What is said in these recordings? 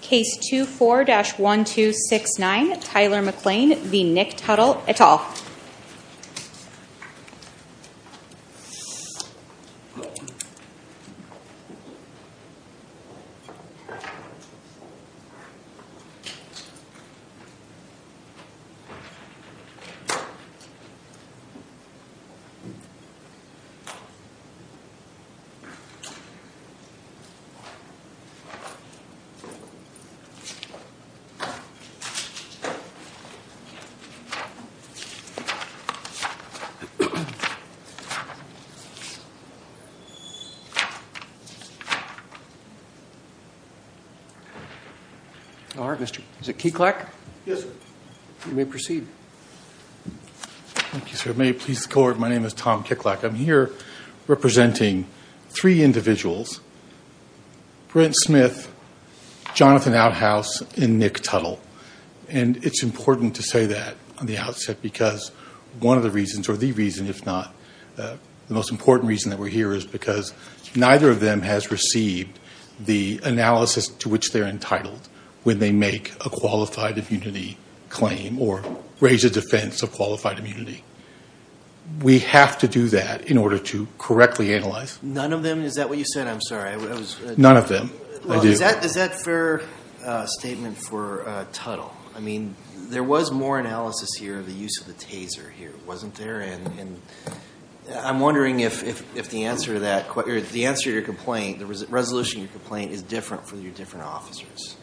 Case 24-1269 Tyler McClain v. Nick Tuttle et al. Tom Kicklack v. Brent Smith v. McClain Jonathan Outhouse v. Nick Tuttle Is that a fair statement for Tuttle? There was more analysis here of the use of the taser, wasn't there? I'm wondering if the answer to your complaint, the resolution of your complaint, is different for your different officers.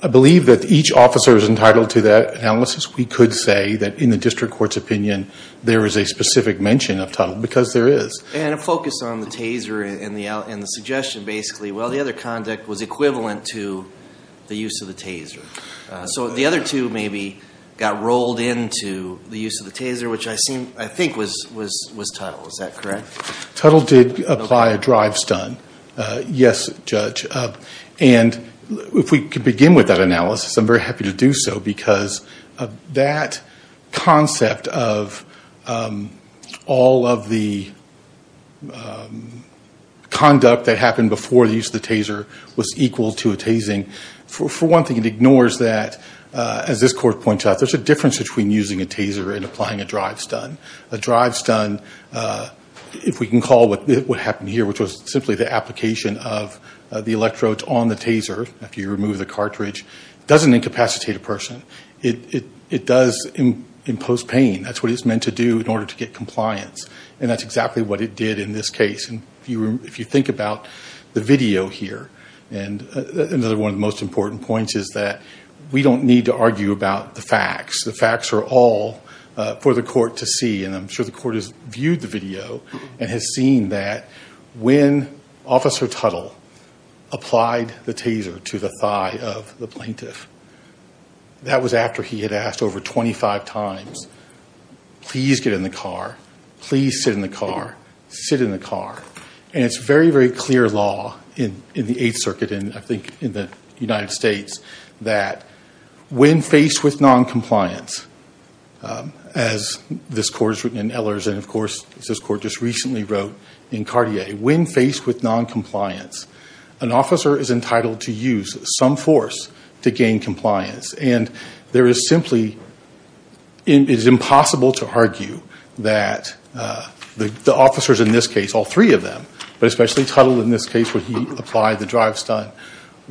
I believe that each officer is entitled to that analysis. We could say that in the district court's opinion there is a specific mention of Tuttle because there is. And a focus on the taser and the suggestion, basically. Well, the other conduct was equivalent to the use of the taser. So the other two maybe got rolled into the use of the taser, which I think was Tuttle. Is that correct? Tuttle did apply a drive-stun. Yes, Judge. And if we could begin with that analysis, I'm very happy to do so because of that concept of all of the conduct that happened before the use of the taser was equal to a tasing. For one thing, it ignores that, as this court points out, there's a difference between using a taser and applying a drive-stun. A drive-stun, if we can call what happened here, which was simply the application of the electrodes on the taser, if you remove the cartridge, doesn't incapacitate a person. It does impose pain. That's what it's meant to do in order to get compliance. And that's exactly what it did in this case. And if you think about the video here, another one of the most important points is that we don't need to argue about the facts. The facts are all for the court to see. And I'm sure the court has viewed the video and has seen that when Officer Tuttle applied the taser to the thigh of the plaintiff, that was after he had asked over 25 times, please get in the car, please sit in the car, sit in the car. And it's very, very clear law in the Eighth Circuit and I think in the United States that when faced with noncompliance, as this court has written in Ehlers and, of course, this court just recently wrote in Cartier, when faced with noncompliance, an officer is entitled to use some force to gain compliance. And there is simply, it is impossible to argue that the officers in this case, all three of them, but especially Tuttle in this case where he applied the drive-stunt,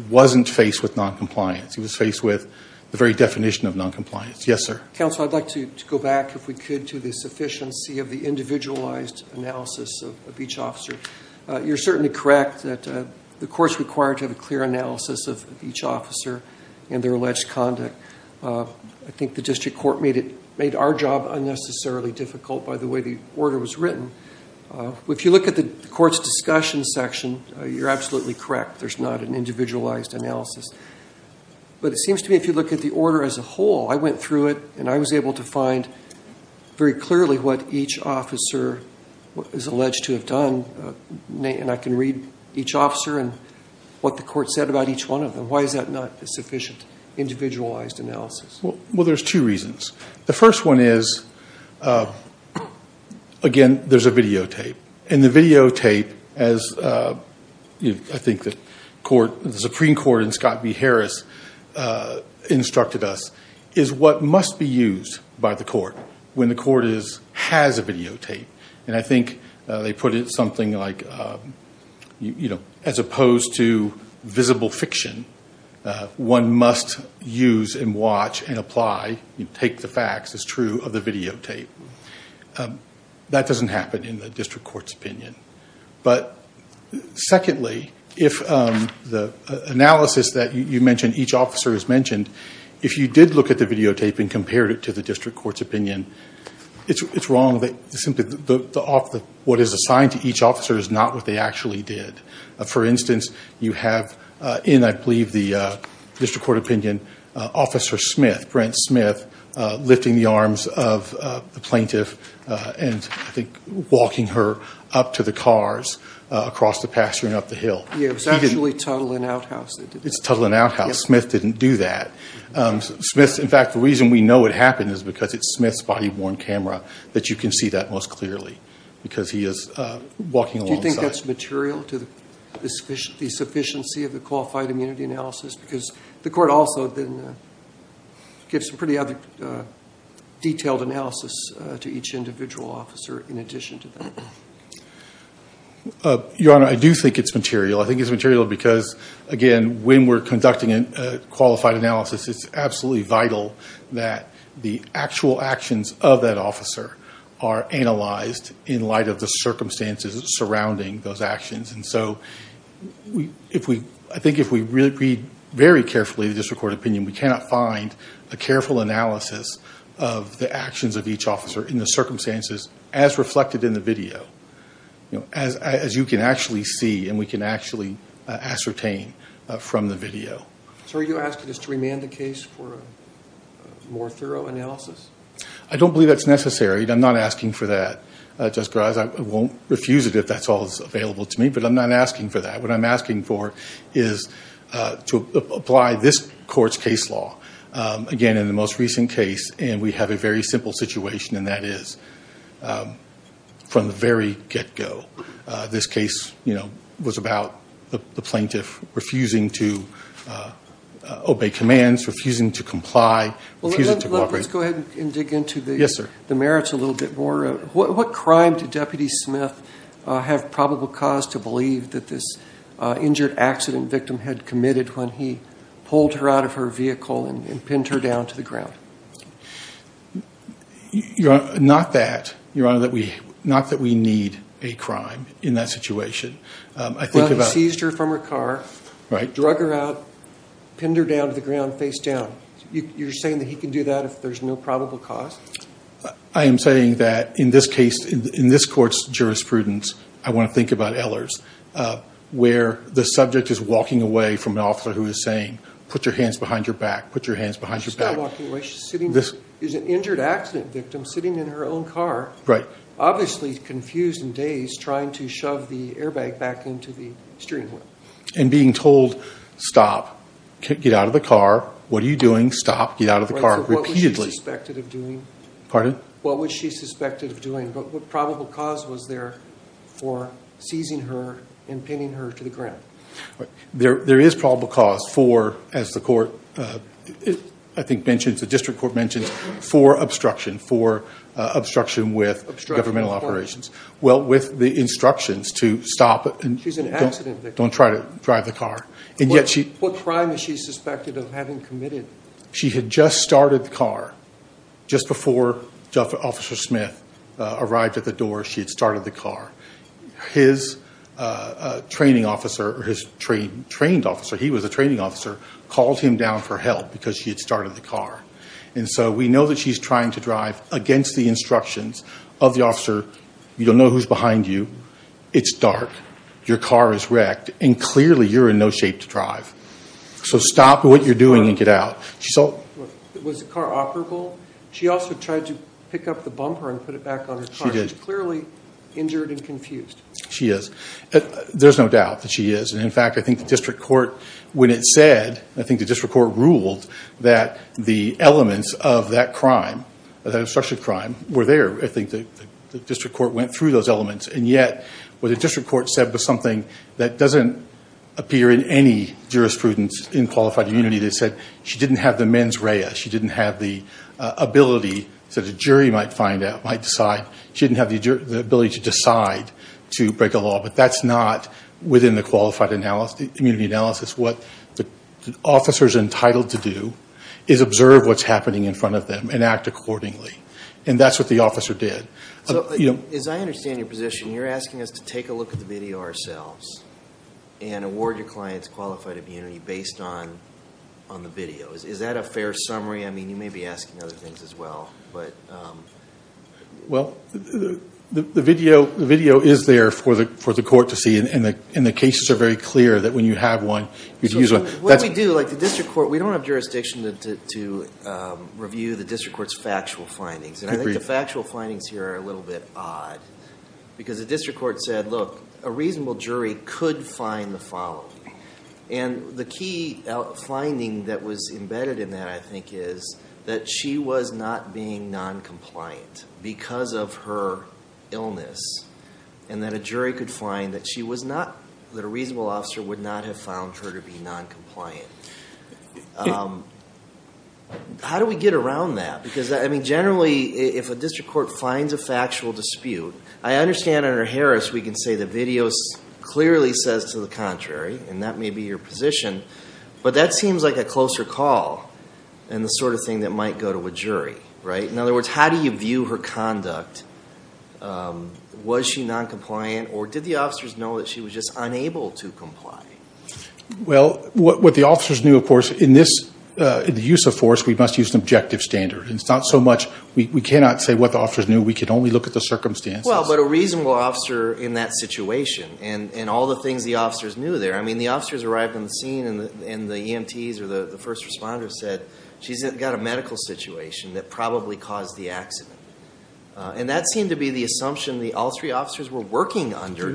wasn't faced with noncompliance. He was faced with the very definition of noncompliance. Yes, sir. Counsel, I'd like to go back, if we could, to the sufficiency of the individualized analysis of each officer. You're certainly correct that the court's required to have a clear analysis of each officer and their alleged conduct. I think the district court made our job unnecessarily difficult by the way the order was written. If you look at the court's discussion section, you're absolutely correct. There's not an individualized analysis. But it seems to me if you look at the order as a whole, I went through it, and I was able to find very clearly what each officer is alleged to have done. And I can read each officer and what the court said about each one of them. Why is that not a sufficient individualized analysis? Well, there's two reasons. The first one is, again, there's a videotape. And the videotape, as I think the Supreme Court and Scott B. Harris instructed us, is what must be used by the court when the court has a videotape. And I think they put it something like, as opposed to visible fiction, one must use and watch and apply, take the facts as true of the videotape. That doesn't happen in the district court's opinion. But secondly, if the analysis that you mentioned, each officer has mentioned, if you did look at the videotape and compared it to the district court's opinion, it's wrong that simply what is assigned to each officer is not what they actually did. For instance, you have in, I believe, the district court opinion, Officer Smith, Brent Smith, lifting the arms of the plaintiff and I think walking her up to the cars across the pasture and up the hill. Yeah, it was actually Tuttle and Outhouse that did it. It's Tuttle and Outhouse. Smith didn't do that. In fact, the reason we know it happened is because it's Smith's body-worn camera, that you can see that most clearly because he is walking alongside. Do you think that's material to the sufficiency of the qualified immunity analysis? Because the court also then gives some pretty detailed analysis to each individual officer in addition to that. Your Honor, I do think it's material. I think it's material because, again, when we're conducting a qualified analysis, it's absolutely vital that the actual actions of that officer are analyzed in light of the circumstances surrounding those actions. And so I think if we read very carefully the district court opinion, we cannot find a careful analysis of the actions of each officer in the circumstances as reflected in the video, as you can actually see and we can actually ascertain from the video. So are you asking us to remand the case for a more thorough analysis? I don't believe that's necessary. I'm not asking for that, Justice Garza. I won't refuse it if that's all that's available to me, but I'm not asking for that. What I'm asking for is to apply this court's case law, again, in the most recent case, and we have a very simple situation, and that is from the very get-go, this case was about the plaintiff refusing to obey commands, refusing to comply, refusing to cooperate. Let's go ahead and dig into the merits a little bit more. What crime did Deputy Smith have probable cause to believe that this injured accident victim had committed when he pulled her out of her vehicle and pinned her down to the ground? Your Honor, not that we need a crime in that situation. Well, he seized her from her car, drug her out, pinned her down to the ground face down. You're saying that he can do that if there's no probable cause? I am saying that in this case, in this court's jurisprudence, I want to think about Ehlers, where the subject is walking away from an officer who is saying, put your hands behind your back, put your hands behind your back. She's not walking away. She's an injured accident victim sitting in her own car, obviously confused and dazed trying to shove the airbag back into the steering wheel. And being told, stop, get out of the car, what are you doing, stop, get out of the car, repeatedly. What was she suspected of doing? Pardon? What was she suspected of doing? What probable cause was there for seizing her and pinning her to the ground? There is probable cause for, as the court I think mentions, the district court mentions, for obstruction, for obstruction with governmental operations. Well, with the instructions to stop and don't try to drive the car. What crime is she suspected of having committed? She had just started the car, just before Officer Smith arrived at the door, she had started the car. His training officer, or his trained officer, he was a training officer, called him down for help because she had started the car. And so we know that she's trying to drive against the instructions of the officer, you don't know who's behind you, it's dark, your car is wrecked, and clearly you're in no shape to drive. So stop what you're doing and get out. Was the car operable? She also tried to pick up the bumper and put it back on the car. She did. She's clearly injured and confused. She is. There's no doubt that she is. And, in fact, I think the district court, when it said, I think the district court ruled that the elements of that crime, that obstruction of crime, were there. I think the district court went through those elements. And yet what the district court said was something that doesn't appear in any jurisprudence in qualified immunity. They said she didn't have the mens rea. She didn't have the ability that a jury might find out, might decide. She didn't have the ability to decide to break a law. But that's not within the qualified immunity analysis. What the officer is entitled to do is observe what's happening in front of them and act accordingly. And that's what the officer did. As I understand your position, you're asking us to take a look at the video ourselves and award your clients qualified immunity based on the video. Is that a fair summary? I mean, you may be asking other things as well. Well, the video is there for the court to see. And the cases are very clear that when you have one, you use one. What we do, like the district court, we don't have jurisdiction to review the district court's factual findings. And I think the factual findings here are a little bit odd. Because the district court said, look, a reasonable jury could find the following. And the key finding that was embedded in that, I think, is that she was not being noncompliant because of her illness. And that a jury could find that she was not, that a reasonable officer would not have found her to be noncompliant. How do we get around that? Because, I mean, generally, if a district court finds a factual dispute, I understand under Harris we can say the video clearly says to the contrary. And that may be your position. But that seems like a closer call than the sort of thing that might go to a jury. Right? In other words, how do you view her conduct? Was she noncompliant? Or did the officers know that she was just unable to comply? Well, what the officers knew, of course, in the use of force, we must use an objective standard. And it's not so much, we cannot say what the officers knew. We can only look at the circumstances. Well, but a reasonable officer in that situation, and all the things the officers knew there, I mean, the officers arrived on the scene and the EMTs or the first responders said, she's got a medical situation that probably caused the accident. And that seemed to be the assumption that all three officers were working under.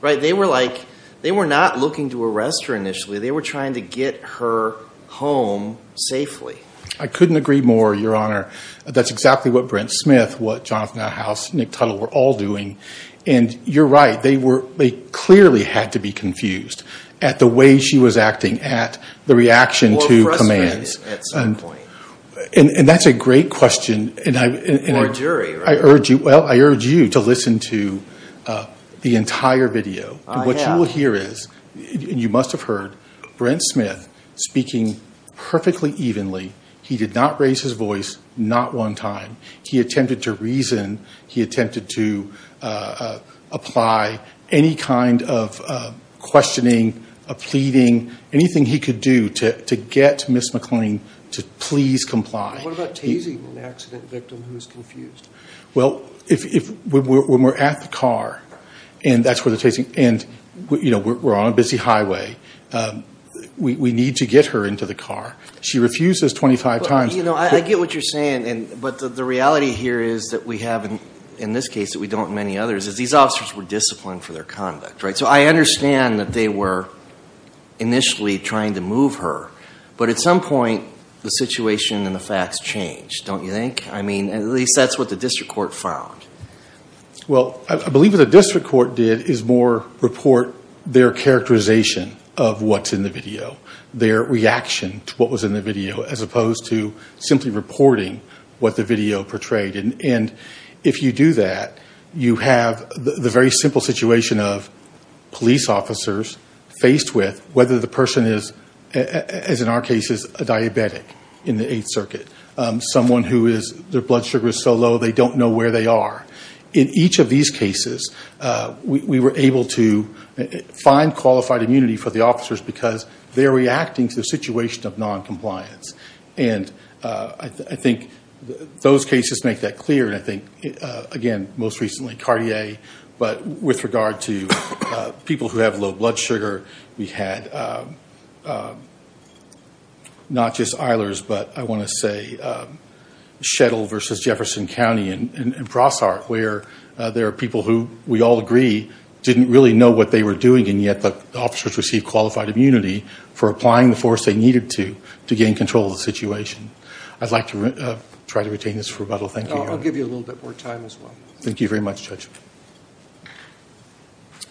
Right? They were like, they were not looking to arrest her initially. They were trying to get her home safely. I couldn't agree more, Your Honor. That's exactly what Brent Smith, what Jonathan Outhouse, Nick Tuttle were all doing. And you're right. They clearly had to be confused at the way she was acting, at the reaction to commands. Or frustrated at some point. And that's a great question. Or a jury, right? Well, I urge you to listen to the entire video. I have. What you will hear is, and you must have heard, Brent Smith speaking perfectly evenly. He did not raise his voice not one time. He attempted to reason. He attempted to apply any kind of questioning, pleading, anything he could do to get Ms. McClain to please comply. What about tasing an accident victim who is confused? Well, when we're at the car, and that's where the tasing, and we're on a busy highway, we need to get her into the car. She refuses 25 times. You know, I get what you're saying. But the reality here is that we have, in this case, that we don't in many others, is these officers were disciplined for their conduct, right? So I understand that they were initially trying to move her. But at some point, the situation and the facts changed, don't you think? I mean, at least that's what the district court found. Well, I believe what the district court did is more report their characterization of what's in the video, their reaction to what was in the video, as opposed to simply reporting what the video portrayed. And if you do that, you have the very simple situation of police officers faced with whether the person is, as in our case, is a diabetic in the Eighth Circuit, someone whose blood sugar is so low they don't know where they are. In each of these cases, we were able to find qualified immunity for the officers because they're reacting to a situation of noncompliance. And I think those cases make that clear. And I think, again, most recently Cartier. But with regard to people who have low blood sugar, we had not just Eilers, but I want to say Shettle versus Jefferson County and Crosshart, where there are people who, we all agree, didn't really know what they were doing, and yet the officers received qualified immunity for applying the force they needed to to gain control of the situation. I'd like to try to retain this rebuttal. Thank you. I'll give you a little bit more time as well. Thank you very much, Judge.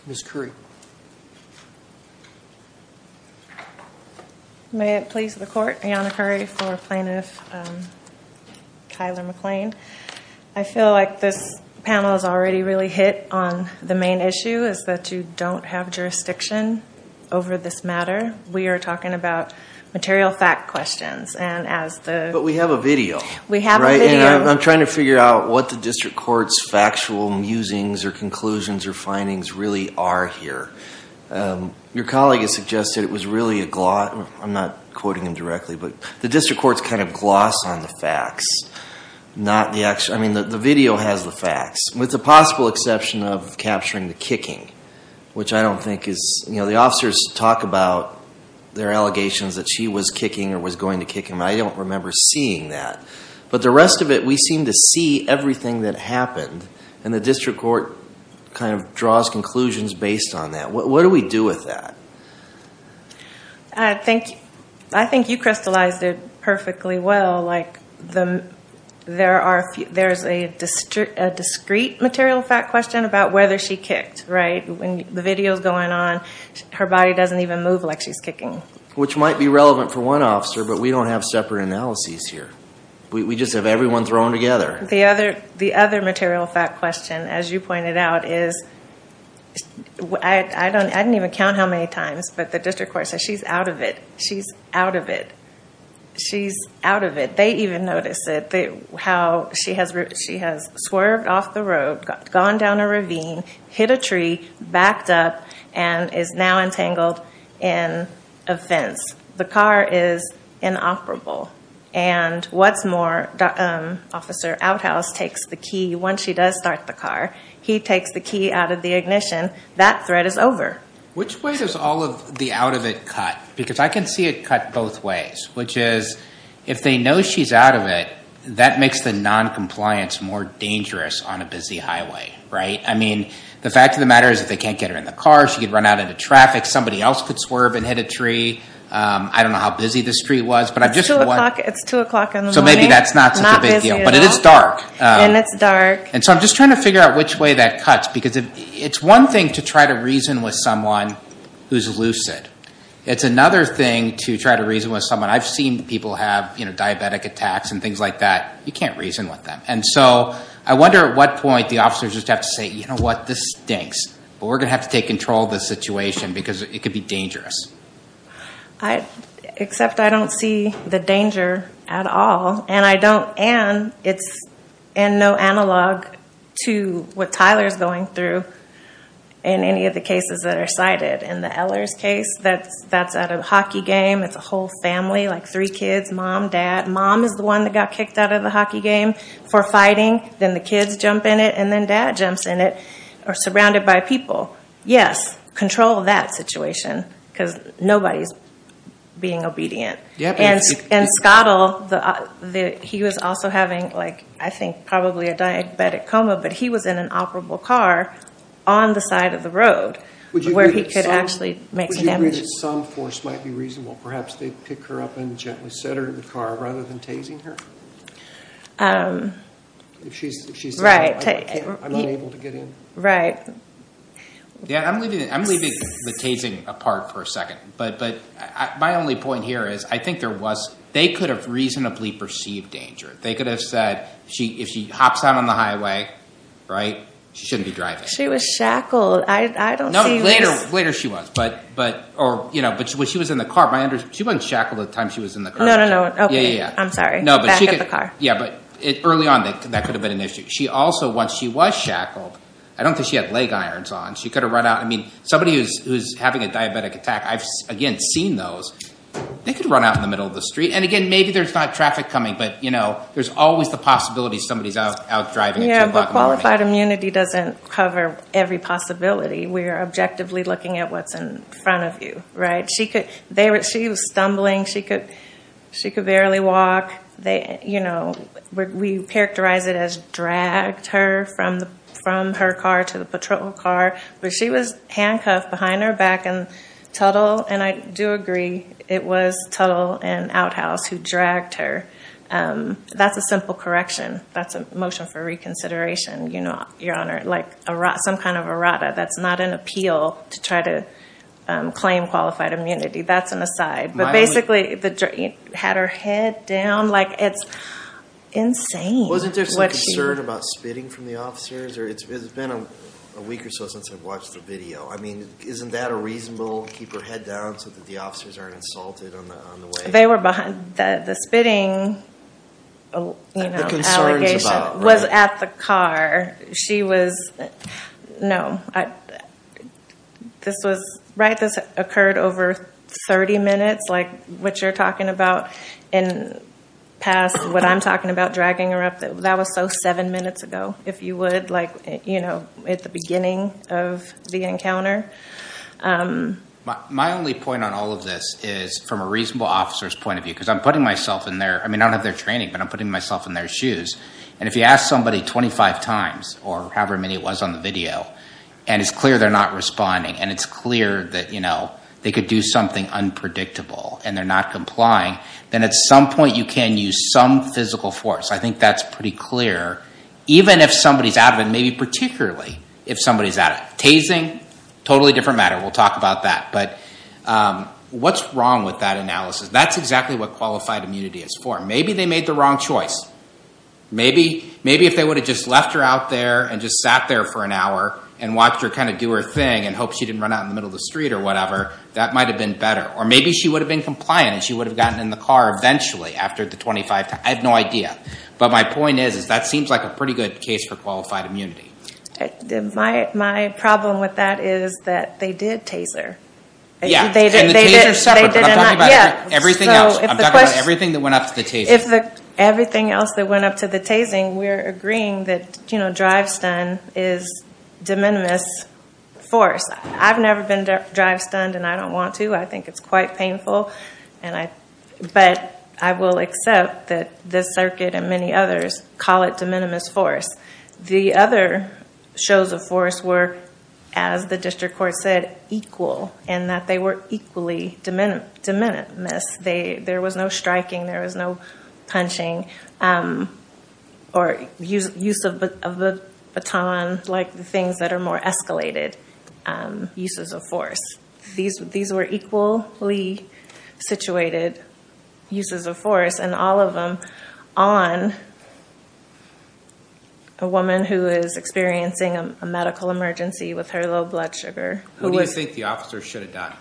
Ms. Curry. Thank you. May it please the Court, Ayanna Curry for Plaintiff Kyler McClain. I feel like this panel has already really hit on the main issue, is that you don't have jurisdiction over this matter. We are talking about material fact questions. But we have a video. We have a video. And I'm trying to figure out what the district court's factual musings or conclusions or findings really are here. Your colleague has suggested it was really a gloss, I'm not quoting him directly, but the district court's kind of gloss on the facts. I mean, the video has the facts, with the possible exception of capturing the kicking, which I don't think is, you know, the officers talk about their allegations that she was kicking or was going to kick him. I don't remember seeing that. But the rest of it, we seem to see everything that happened. And the district court kind of draws conclusions based on that. What do we do with that? I think you crystallized it perfectly well. Like, there's a discrete material fact question about whether she kicked, right? When the video's going on, her body doesn't even move like she's kicking. Which might be relevant for one officer, but we don't have separate analyses here. We just have everyone thrown together. The other material fact question, as you pointed out, is, I didn't even count how many times, but the district court says she's out of it. She's out of it. She's out of it. They even notice it, how she has swerved off the road, gone down a ravine, hit a tree, backed up, and is now entangled in a fence. The car is inoperable. And what's more, Officer Outhouse takes the key. Once he does start the car, he takes the key out of the ignition. That threat is over. Which way does all of the out of it cut? Because I can see it cut both ways, which is, if they know she's out of it, that makes the noncompliance more dangerous on a busy highway, right? I mean, the fact of the matter is, if they can't get her in the car, she could run out into traffic. Somebody else could swerve and hit a tree. I don't know how busy the street was, but I'm just wondering. It's 2 o'clock in the morning. So maybe that's not such a big deal. Not busy at all. But it is dark. And it's dark. And so I'm just trying to figure out which way that cuts, because it's one thing to try to reason with someone who's lucid. It's another thing to try to reason with someone. I've seen people have diabetic attacks and things like that. You can't reason with them. And so I wonder at what point the officers just have to say, you know what, this stinks. But we're going to have to take control of this situation, because it could be dangerous. Except I don't see the danger at all. And I don't. And it's in no analog to what Tyler's going through in any of the cases that are cited. In the Eller's case, that's at a hockey game. It's a whole family, like three kids, mom, dad. Mom is the one that got kicked out of the hockey game for fighting. Then the kids jump in it. And then dad jumps in it. Or surrounded by people, yes, control that situation, because nobody's being obedient. And Scottle, he was also having, I think, probably a diabetic coma, but he was in an operable car on the side of the road where he could actually make some damage. Would you agree that some force might be reasonable? Perhaps they'd pick her up and gently set her in the car rather than tasing her? If she's disabled, I'm unable to get in? Right. I'm leaving the tasing apart for a second. But my only point here is I think there was – they could have reasonably perceived danger. They could have said if she hops out on the highway, right, she shouldn't be driving. She was shackled. Later she was. But when she was in the car, she wasn't shackled at the time she was in the car. No, no, no. I'm sorry. Back in the car. Yeah, but early on that could have been an issue. She also, once she was shackled, I don't think she had leg irons on. She could have run out. I mean, somebody who's having a diabetic attack, I've, again, seen those. They could run out in the middle of the street. And, again, maybe there's not traffic coming, but, you know, there's always the possibility somebody's out driving at 2 o'clock in the morning. Yeah, but qualified immunity doesn't cover every possibility. We're objectively looking at what's in front of you, right? She was stumbling. She could barely walk. You know, we characterize it as dragged her from her car to the patrol car. But she was handcuffed behind her back and Tuttle, and I do agree, it was Tuttle and Outhouse who dragged her. That's a simple correction. That's a motion for reconsideration, Your Honor, like some kind of errata. That's not an appeal to try to claim qualified immunity. That's an aside. But, basically, had her head down. Like, it's insane. Wasn't there some concern about spitting from the officers? It's been a week or so since I've watched the video. I mean, isn't that a reasonable, keep her head down so that the officers aren't insulted on the way? They were behind. The spitting, you know, allegation was at the car. She was, no. This was, right, this occurred over 30 minutes, like what you're talking about, and past what I'm talking about, dragging her up. That was so seven minutes ago, if you would, like, you know, at the beginning of the encounter. My only point on all of this is from a reasonable officer's point of view, because I'm putting myself in their, I mean, I don't have their training, but I'm putting myself in their shoes. And if you ask somebody 25 times, or however many it was on the video, and it's clear they're not responding, and it's clear that, you know, they could do something unpredictable, and they're not complying, then at some point you can use some physical force. I think that's pretty clear, even if somebody's out of it, and maybe particularly if somebody's out of it. Tasing, totally different matter. We'll talk about that. But what's wrong with that analysis? That's exactly what qualified immunity is for. Maybe they made the wrong choice. Maybe if they would have just left her out there and just sat there for an hour and watched her kind of do her thing and hoped she didn't run out in the middle of the street or whatever, that might have been better. Or maybe she would have been compliant, and she would have gotten in the car eventually after the 25 times. I have no idea. But my point is that seems like a pretty good case for qualified immunity. My problem with that is that they did taser. Yeah, and the taser is separate, but I'm talking about everything else. I'm talking about everything that went up to the taser. If everything else that went up to the tasing, we're agreeing that drive-stun is de minimis force. I've never been drive-stunned, and I don't want to. I think it's quite painful. But I will accept that this circuit and many others call it de minimis force. The other shows of force were, as the district court said, equal, and that they were equally de minimis. There was no striking. There was no punching or use of the baton, like the things that are more escalated uses of force. These were equally situated uses of force, and all of them on a woman who is experiencing a medical emergency with her low blood sugar. Who do you think the officers should have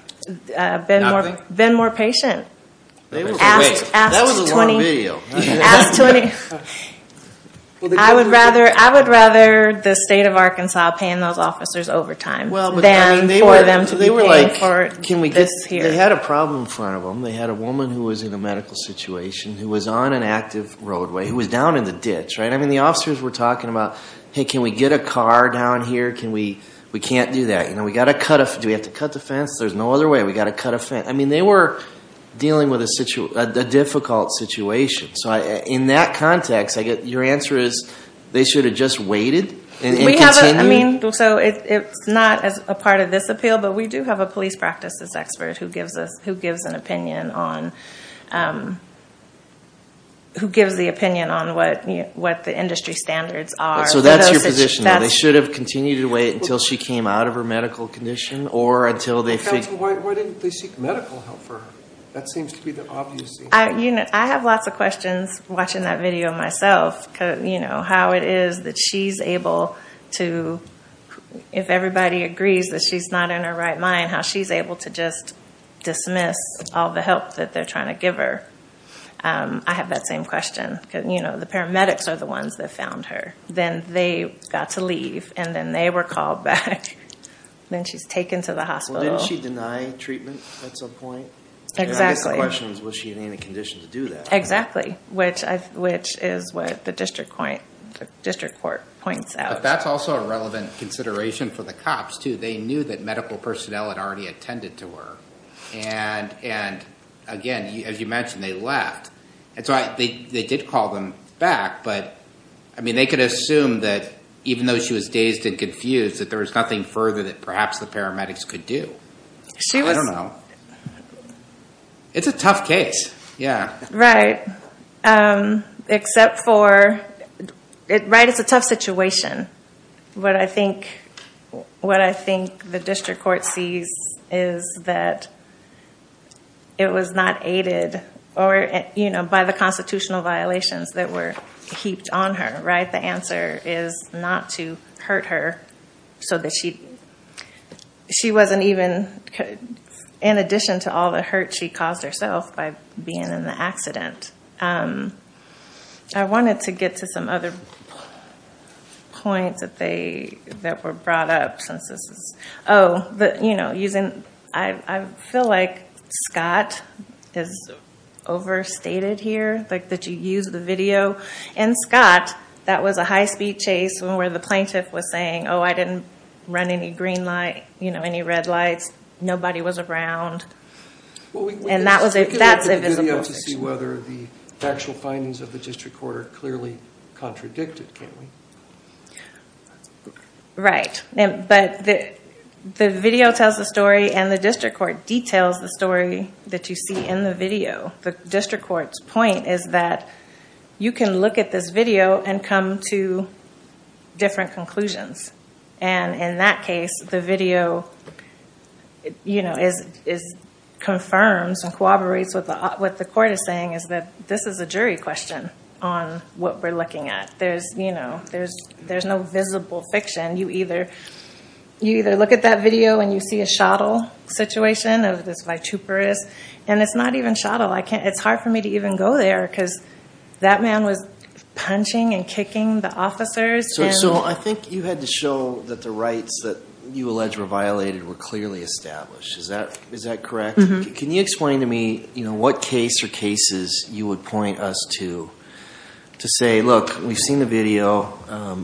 done? Been more patient. That was a long video. I would rather the state of Arkansas paying those officers overtime than for them to be paying for this here. They had a problem in front of them. They had a woman who was in a medical situation who was on an active roadway, who was down in the ditch. I mean, the officers were talking about, hey, can we get a car down here? We can't do that. Do we have to cut the fence? There's no other way. We've got to cut a fence. I mean, they were dealing with a difficult situation. In that context, your answer is they should have just waited and continued? It's not a part of this appeal, but we do have a police practices expert who gives the opinion on what the industry standards are. So that's your position, they should have continued to wait until she came out of her medical condition or until they figured. Why didn't they seek medical help for her? That seems to be the obvious answer. I have lots of questions watching that video myself, how it is that she's able to, if everybody agrees that she's not in her right mind, how she's able to just dismiss all the help that they're trying to give her. I have that same question. The paramedics are the ones that found her. Then they got to leave, and then they were called back. Then she's taken to the hospital. Well, didn't she deny treatment at some point? Exactly. I guess the question is, was she in any condition to do that? Exactly, which is what the district court points out. But that's also a relevant consideration for the cops too. They knew that medical personnel had already attended to her. And, again, as you mentioned, they left. They did call them back. But they could assume that even though she was dazed and confused, that there was nothing further that perhaps the paramedics could do. I don't know. It's a tough case. Right. Except for, right, it's a tough situation. What I think the district court sees is that it was not aided by the constitutional violations that were heaped on her. The answer is not to hurt her so that she wasn't even, in addition to all the hurt she caused herself by being in the accident. I wanted to get to some other points that were brought up. I feel like Scott is overstated here, that you used the video. In Scott, that was a high-speed chase where the plaintiff was saying, oh, I didn't run any green light, any red lights. Nobody was around. We can look at the video to see whether the actual findings of the district court are clearly contradicted, can't we? Right. But the video tells the story and the district court details the story that you see in the video. The district court's point is that you can look at this video and come to different conclusions. In that case, the video confirms and corroborates what the court is saying, is that this is a jury question on what we're looking at. There's no visible fiction. You either look at that video and you see a shuttle situation of this vituperous, and it's not even shuttle. It's hard for me to even go there because that man was punching and kicking the officers. I think you had to show that the rights that you allege were violated were clearly established. Is that correct? Can you explain to me what case or cases you would point us to to say, look, we've seen the video.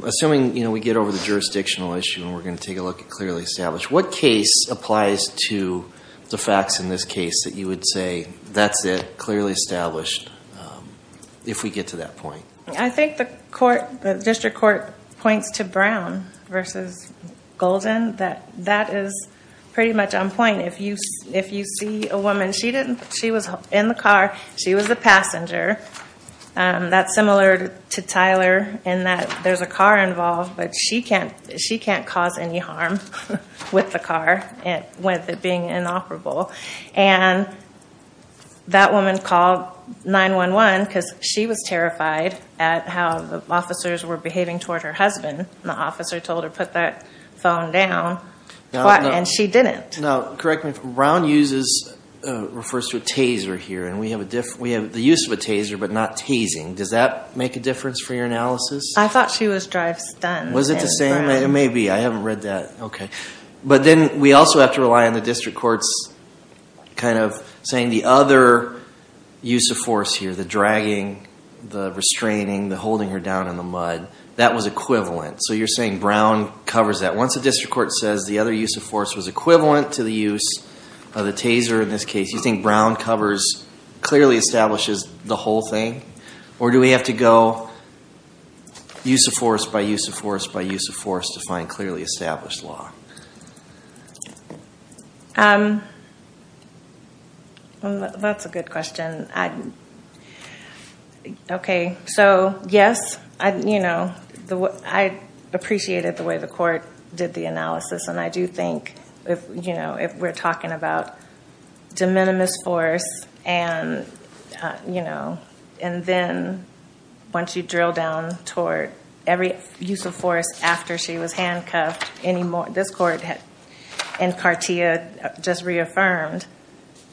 Assuming we get over the jurisdictional issue and we're going to take a look at clearly established, what case applies to the facts in this case that you would say, that's it, clearly established, if we get to that point? I think the district court points to Brown versus Golden. That is pretty much on point. If you see a woman, she was in the car. She was the passenger. That's similar to Tyler in that there's a car involved, but she can't cause any harm with the car, with it being inoperable. That woman called 911 because she was terrified at how the officers were behaving toward her husband. The officer told her, put that phone down, and she didn't. Correct me if I'm wrong. Brown refers to a taser here. We have the use of a taser, but not tasing. Does that make a difference for your analysis? I thought she was drive-stunned. Was it the same? It may be. I haven't read that. Then we also have to rely on the district court's kind of saying the other use of force here, the dragging, the restraining, the holding her down in the mud, that was equivalent. You're saying Brown covers that. Once the district court says the other use of force was equivalent to the use of the taser in this case, you think Brown clearly establishes the whole thing, or do we have to go use of force by use of force by clearly established law? That's a good question. Yes, I appreciated the way the court did the analysis. I do think if we're talking about de minimis force and then once you use of force after she was handcuffed, this court and Cartia just reaffirmed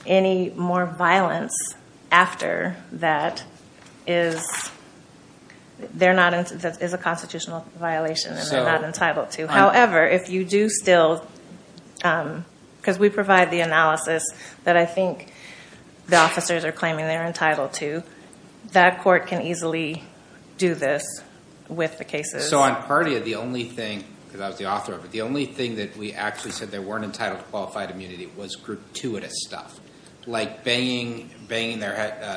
any more violence after that is a constitutional violation and they're not entitled to. However, if you do still, because we provide the analysis that I think the officers are claiming they're entitled to, that court can easily do this with the cases. On Cartia, the only thing, because I was the author of it, the only thing that we actually said they weren't entitled to qualified immunity was gratuitous stuff, like banging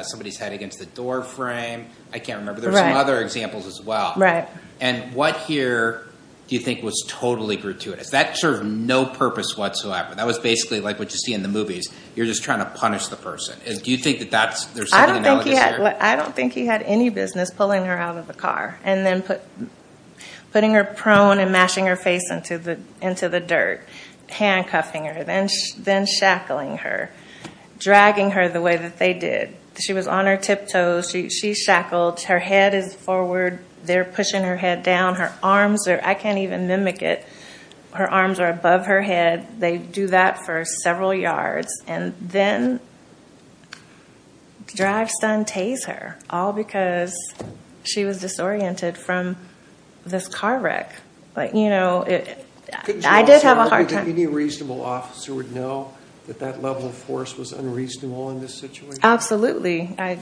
somebody's head against the door frame. I can't remember. There were some other examples as well. What here do you think was totally gratuitous? That served no purpose whatsoever. That was basically like what you see in the movies. You're just trying to punish the person. Do you think that there's something analogous here? I don't think he had any business pulling her out of the car and then putting her prone and mashing her face into the dirt, handcuffing her, then shackling her, dragging her the way that they did. She was on her tiptoes. She shackled. Her head is forward. They're pushing her head down. Her arms are, I can't even mimic it, her arms are above her head. They do that for several yards, and then drag stunt tase her, all because she was disoriented from this car wreck. I did have a hard time. Any reasonable officer would know that that level of force was unreasonable in this situation? Absolutely. I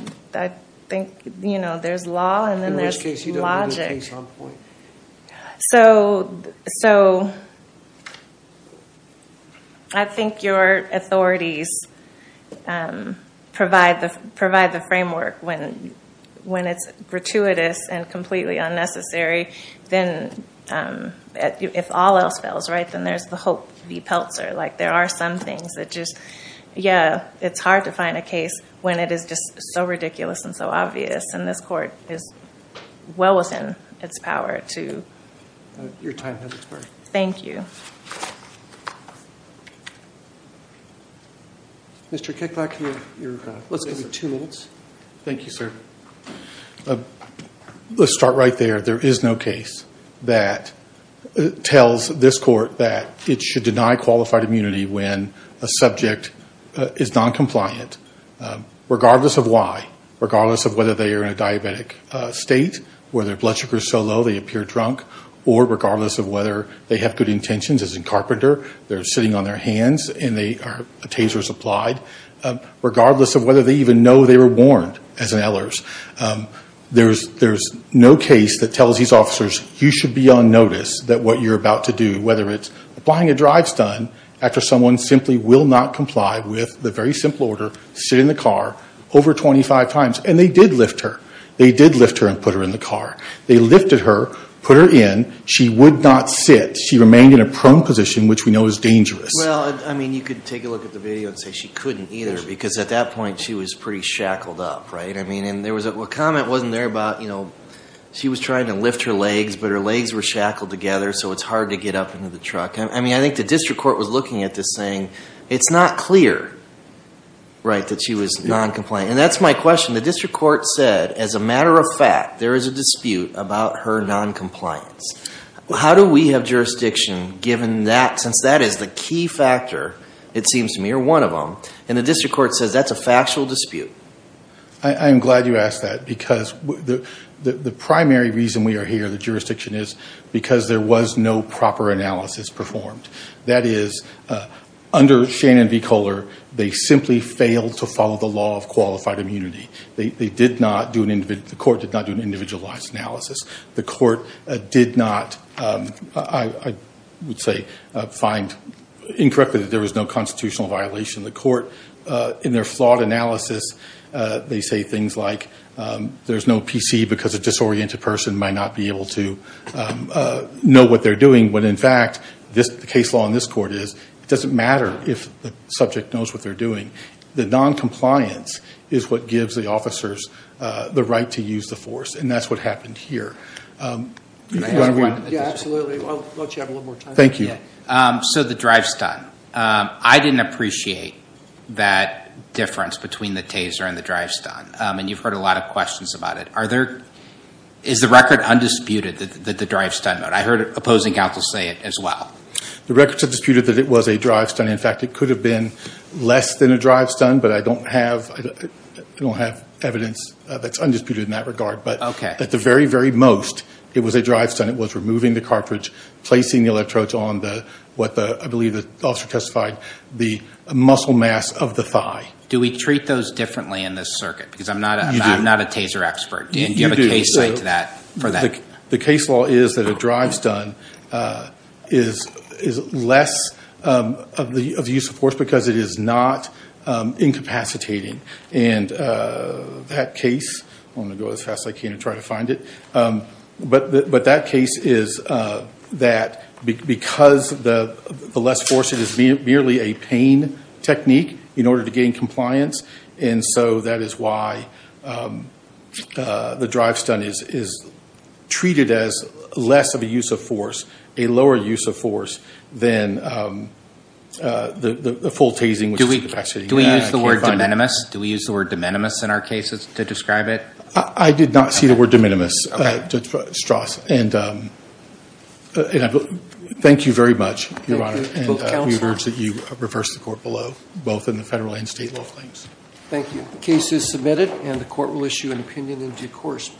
think there's law and then there's logic. So I think your authorities provide the framework when it's gratuitous and completely unnecessary, then if all else fails, then there's the hope v. Peltzer. There are some things that just, yeah, it's hard to find a case when it is just so ridiculous and so obvious, and this court is well within its power to. Your time has expired. Thank you. Mr. Kickback, you have your, let's give you two minutes. Thank you, sir. Let's start right there. There is no case that tells this court that it should deny qualified immunity when a subject is noncompliant, regardless of why, regardless of whether they are in a diabetic state, whether their blood sugar is so low they appear drunk, or regardless of whether they have good intentions as a carpenter, they're sitting on their hands and a tase was applied, regardless of whether they even know they were warned, as in Ehlers. There's no case that tells these officers, you should be on notice that what you're about to do, whether it's applying a drive-stun after someone simply will not comply with the very simple order, sit in the car over 25 times. And they did lift her. They did lift her and put her in the car. They lifted her, put her in. She would not sit. She remained in a prone position, which we know is dangerous. Well, I mean, you could take a look at the video and say she couldn't either because at that point she was pretty shackled up, right? I mean, and there was a comment wasn't there about, you know, she was trying to lift her legs, but her legs were shackled together, so it's hard to get up into the truck. I mean, I think the district court was looking at this saying, it's not clear, right, that she was noncompliant. And that's my question. The district court said, as a matter of fact, there is a dispute about her noncompliance. How do we have jurisdiction given that, since that is the key factor, it seems to me, or one of them, and the district court says that's a factual dispute? I am glad you asked that because the primary reason we are here, the jurisdiction is because there was no proper analysis performed. That is, under Shannon v. Kohler, they simply failed to follow the law of qualified immunity. The court did not do an individualized analysis. The court did not, I would say, find incorrectly that there was no constitutional violation. The court, in their flawed analysis, they say things like, there's no PC because a disoriented person might not be able to know what they're doing. When, in fact, the case law in this court is, it doesn't matter if the subject knows what they're doing. The noncompliance is what gives the officers the right to use the force. And that's what happened here. Can I ask one? Yeah, absolutely. I'll let you have a little more time. Thank you. So the drive-stunt. I didn't appreciate that difference between the taser and the drive-stunt. And you've heard a lot of questions about it. Is the record undisputed that the drive-stunt? I heard opposing counsel say it as well. The records have disputed that it was a drive-stunt. In fact, it could have been less than a drive-stunt, but I don't have evidence that's undisputed in that regard. But at the very, very most, it was a drive-stunt. It was removing the cartridge, placing the electrodes on what I believe the officer testified, the muscle mass of the thigh. Do we treat those differently in this circuit? Because I'm not a taser expert. Dan, do you have a case study for that? The case law is that a drive-stunt is less of the use of force because it is not incapacitating. And that case, I'm going to go as fast as I can to try to find it. But that case is that because the less force, it is merely a pain technique in order to gain compliance. And so that is why the drive-stunt is treated as less of a use of force, a lower use of force than the full tasing, which is incapacitating. Do we use the word de minimis? Do we use the word de minimis in our cases to describe it? I did not see the word de minimis, Judge Strauss. And thank you very much, Your Honor. And we urge that you reverse the court below, both in the federal and state law claims. Thank you. The case is submitted, and the court will issue an opinion in due course.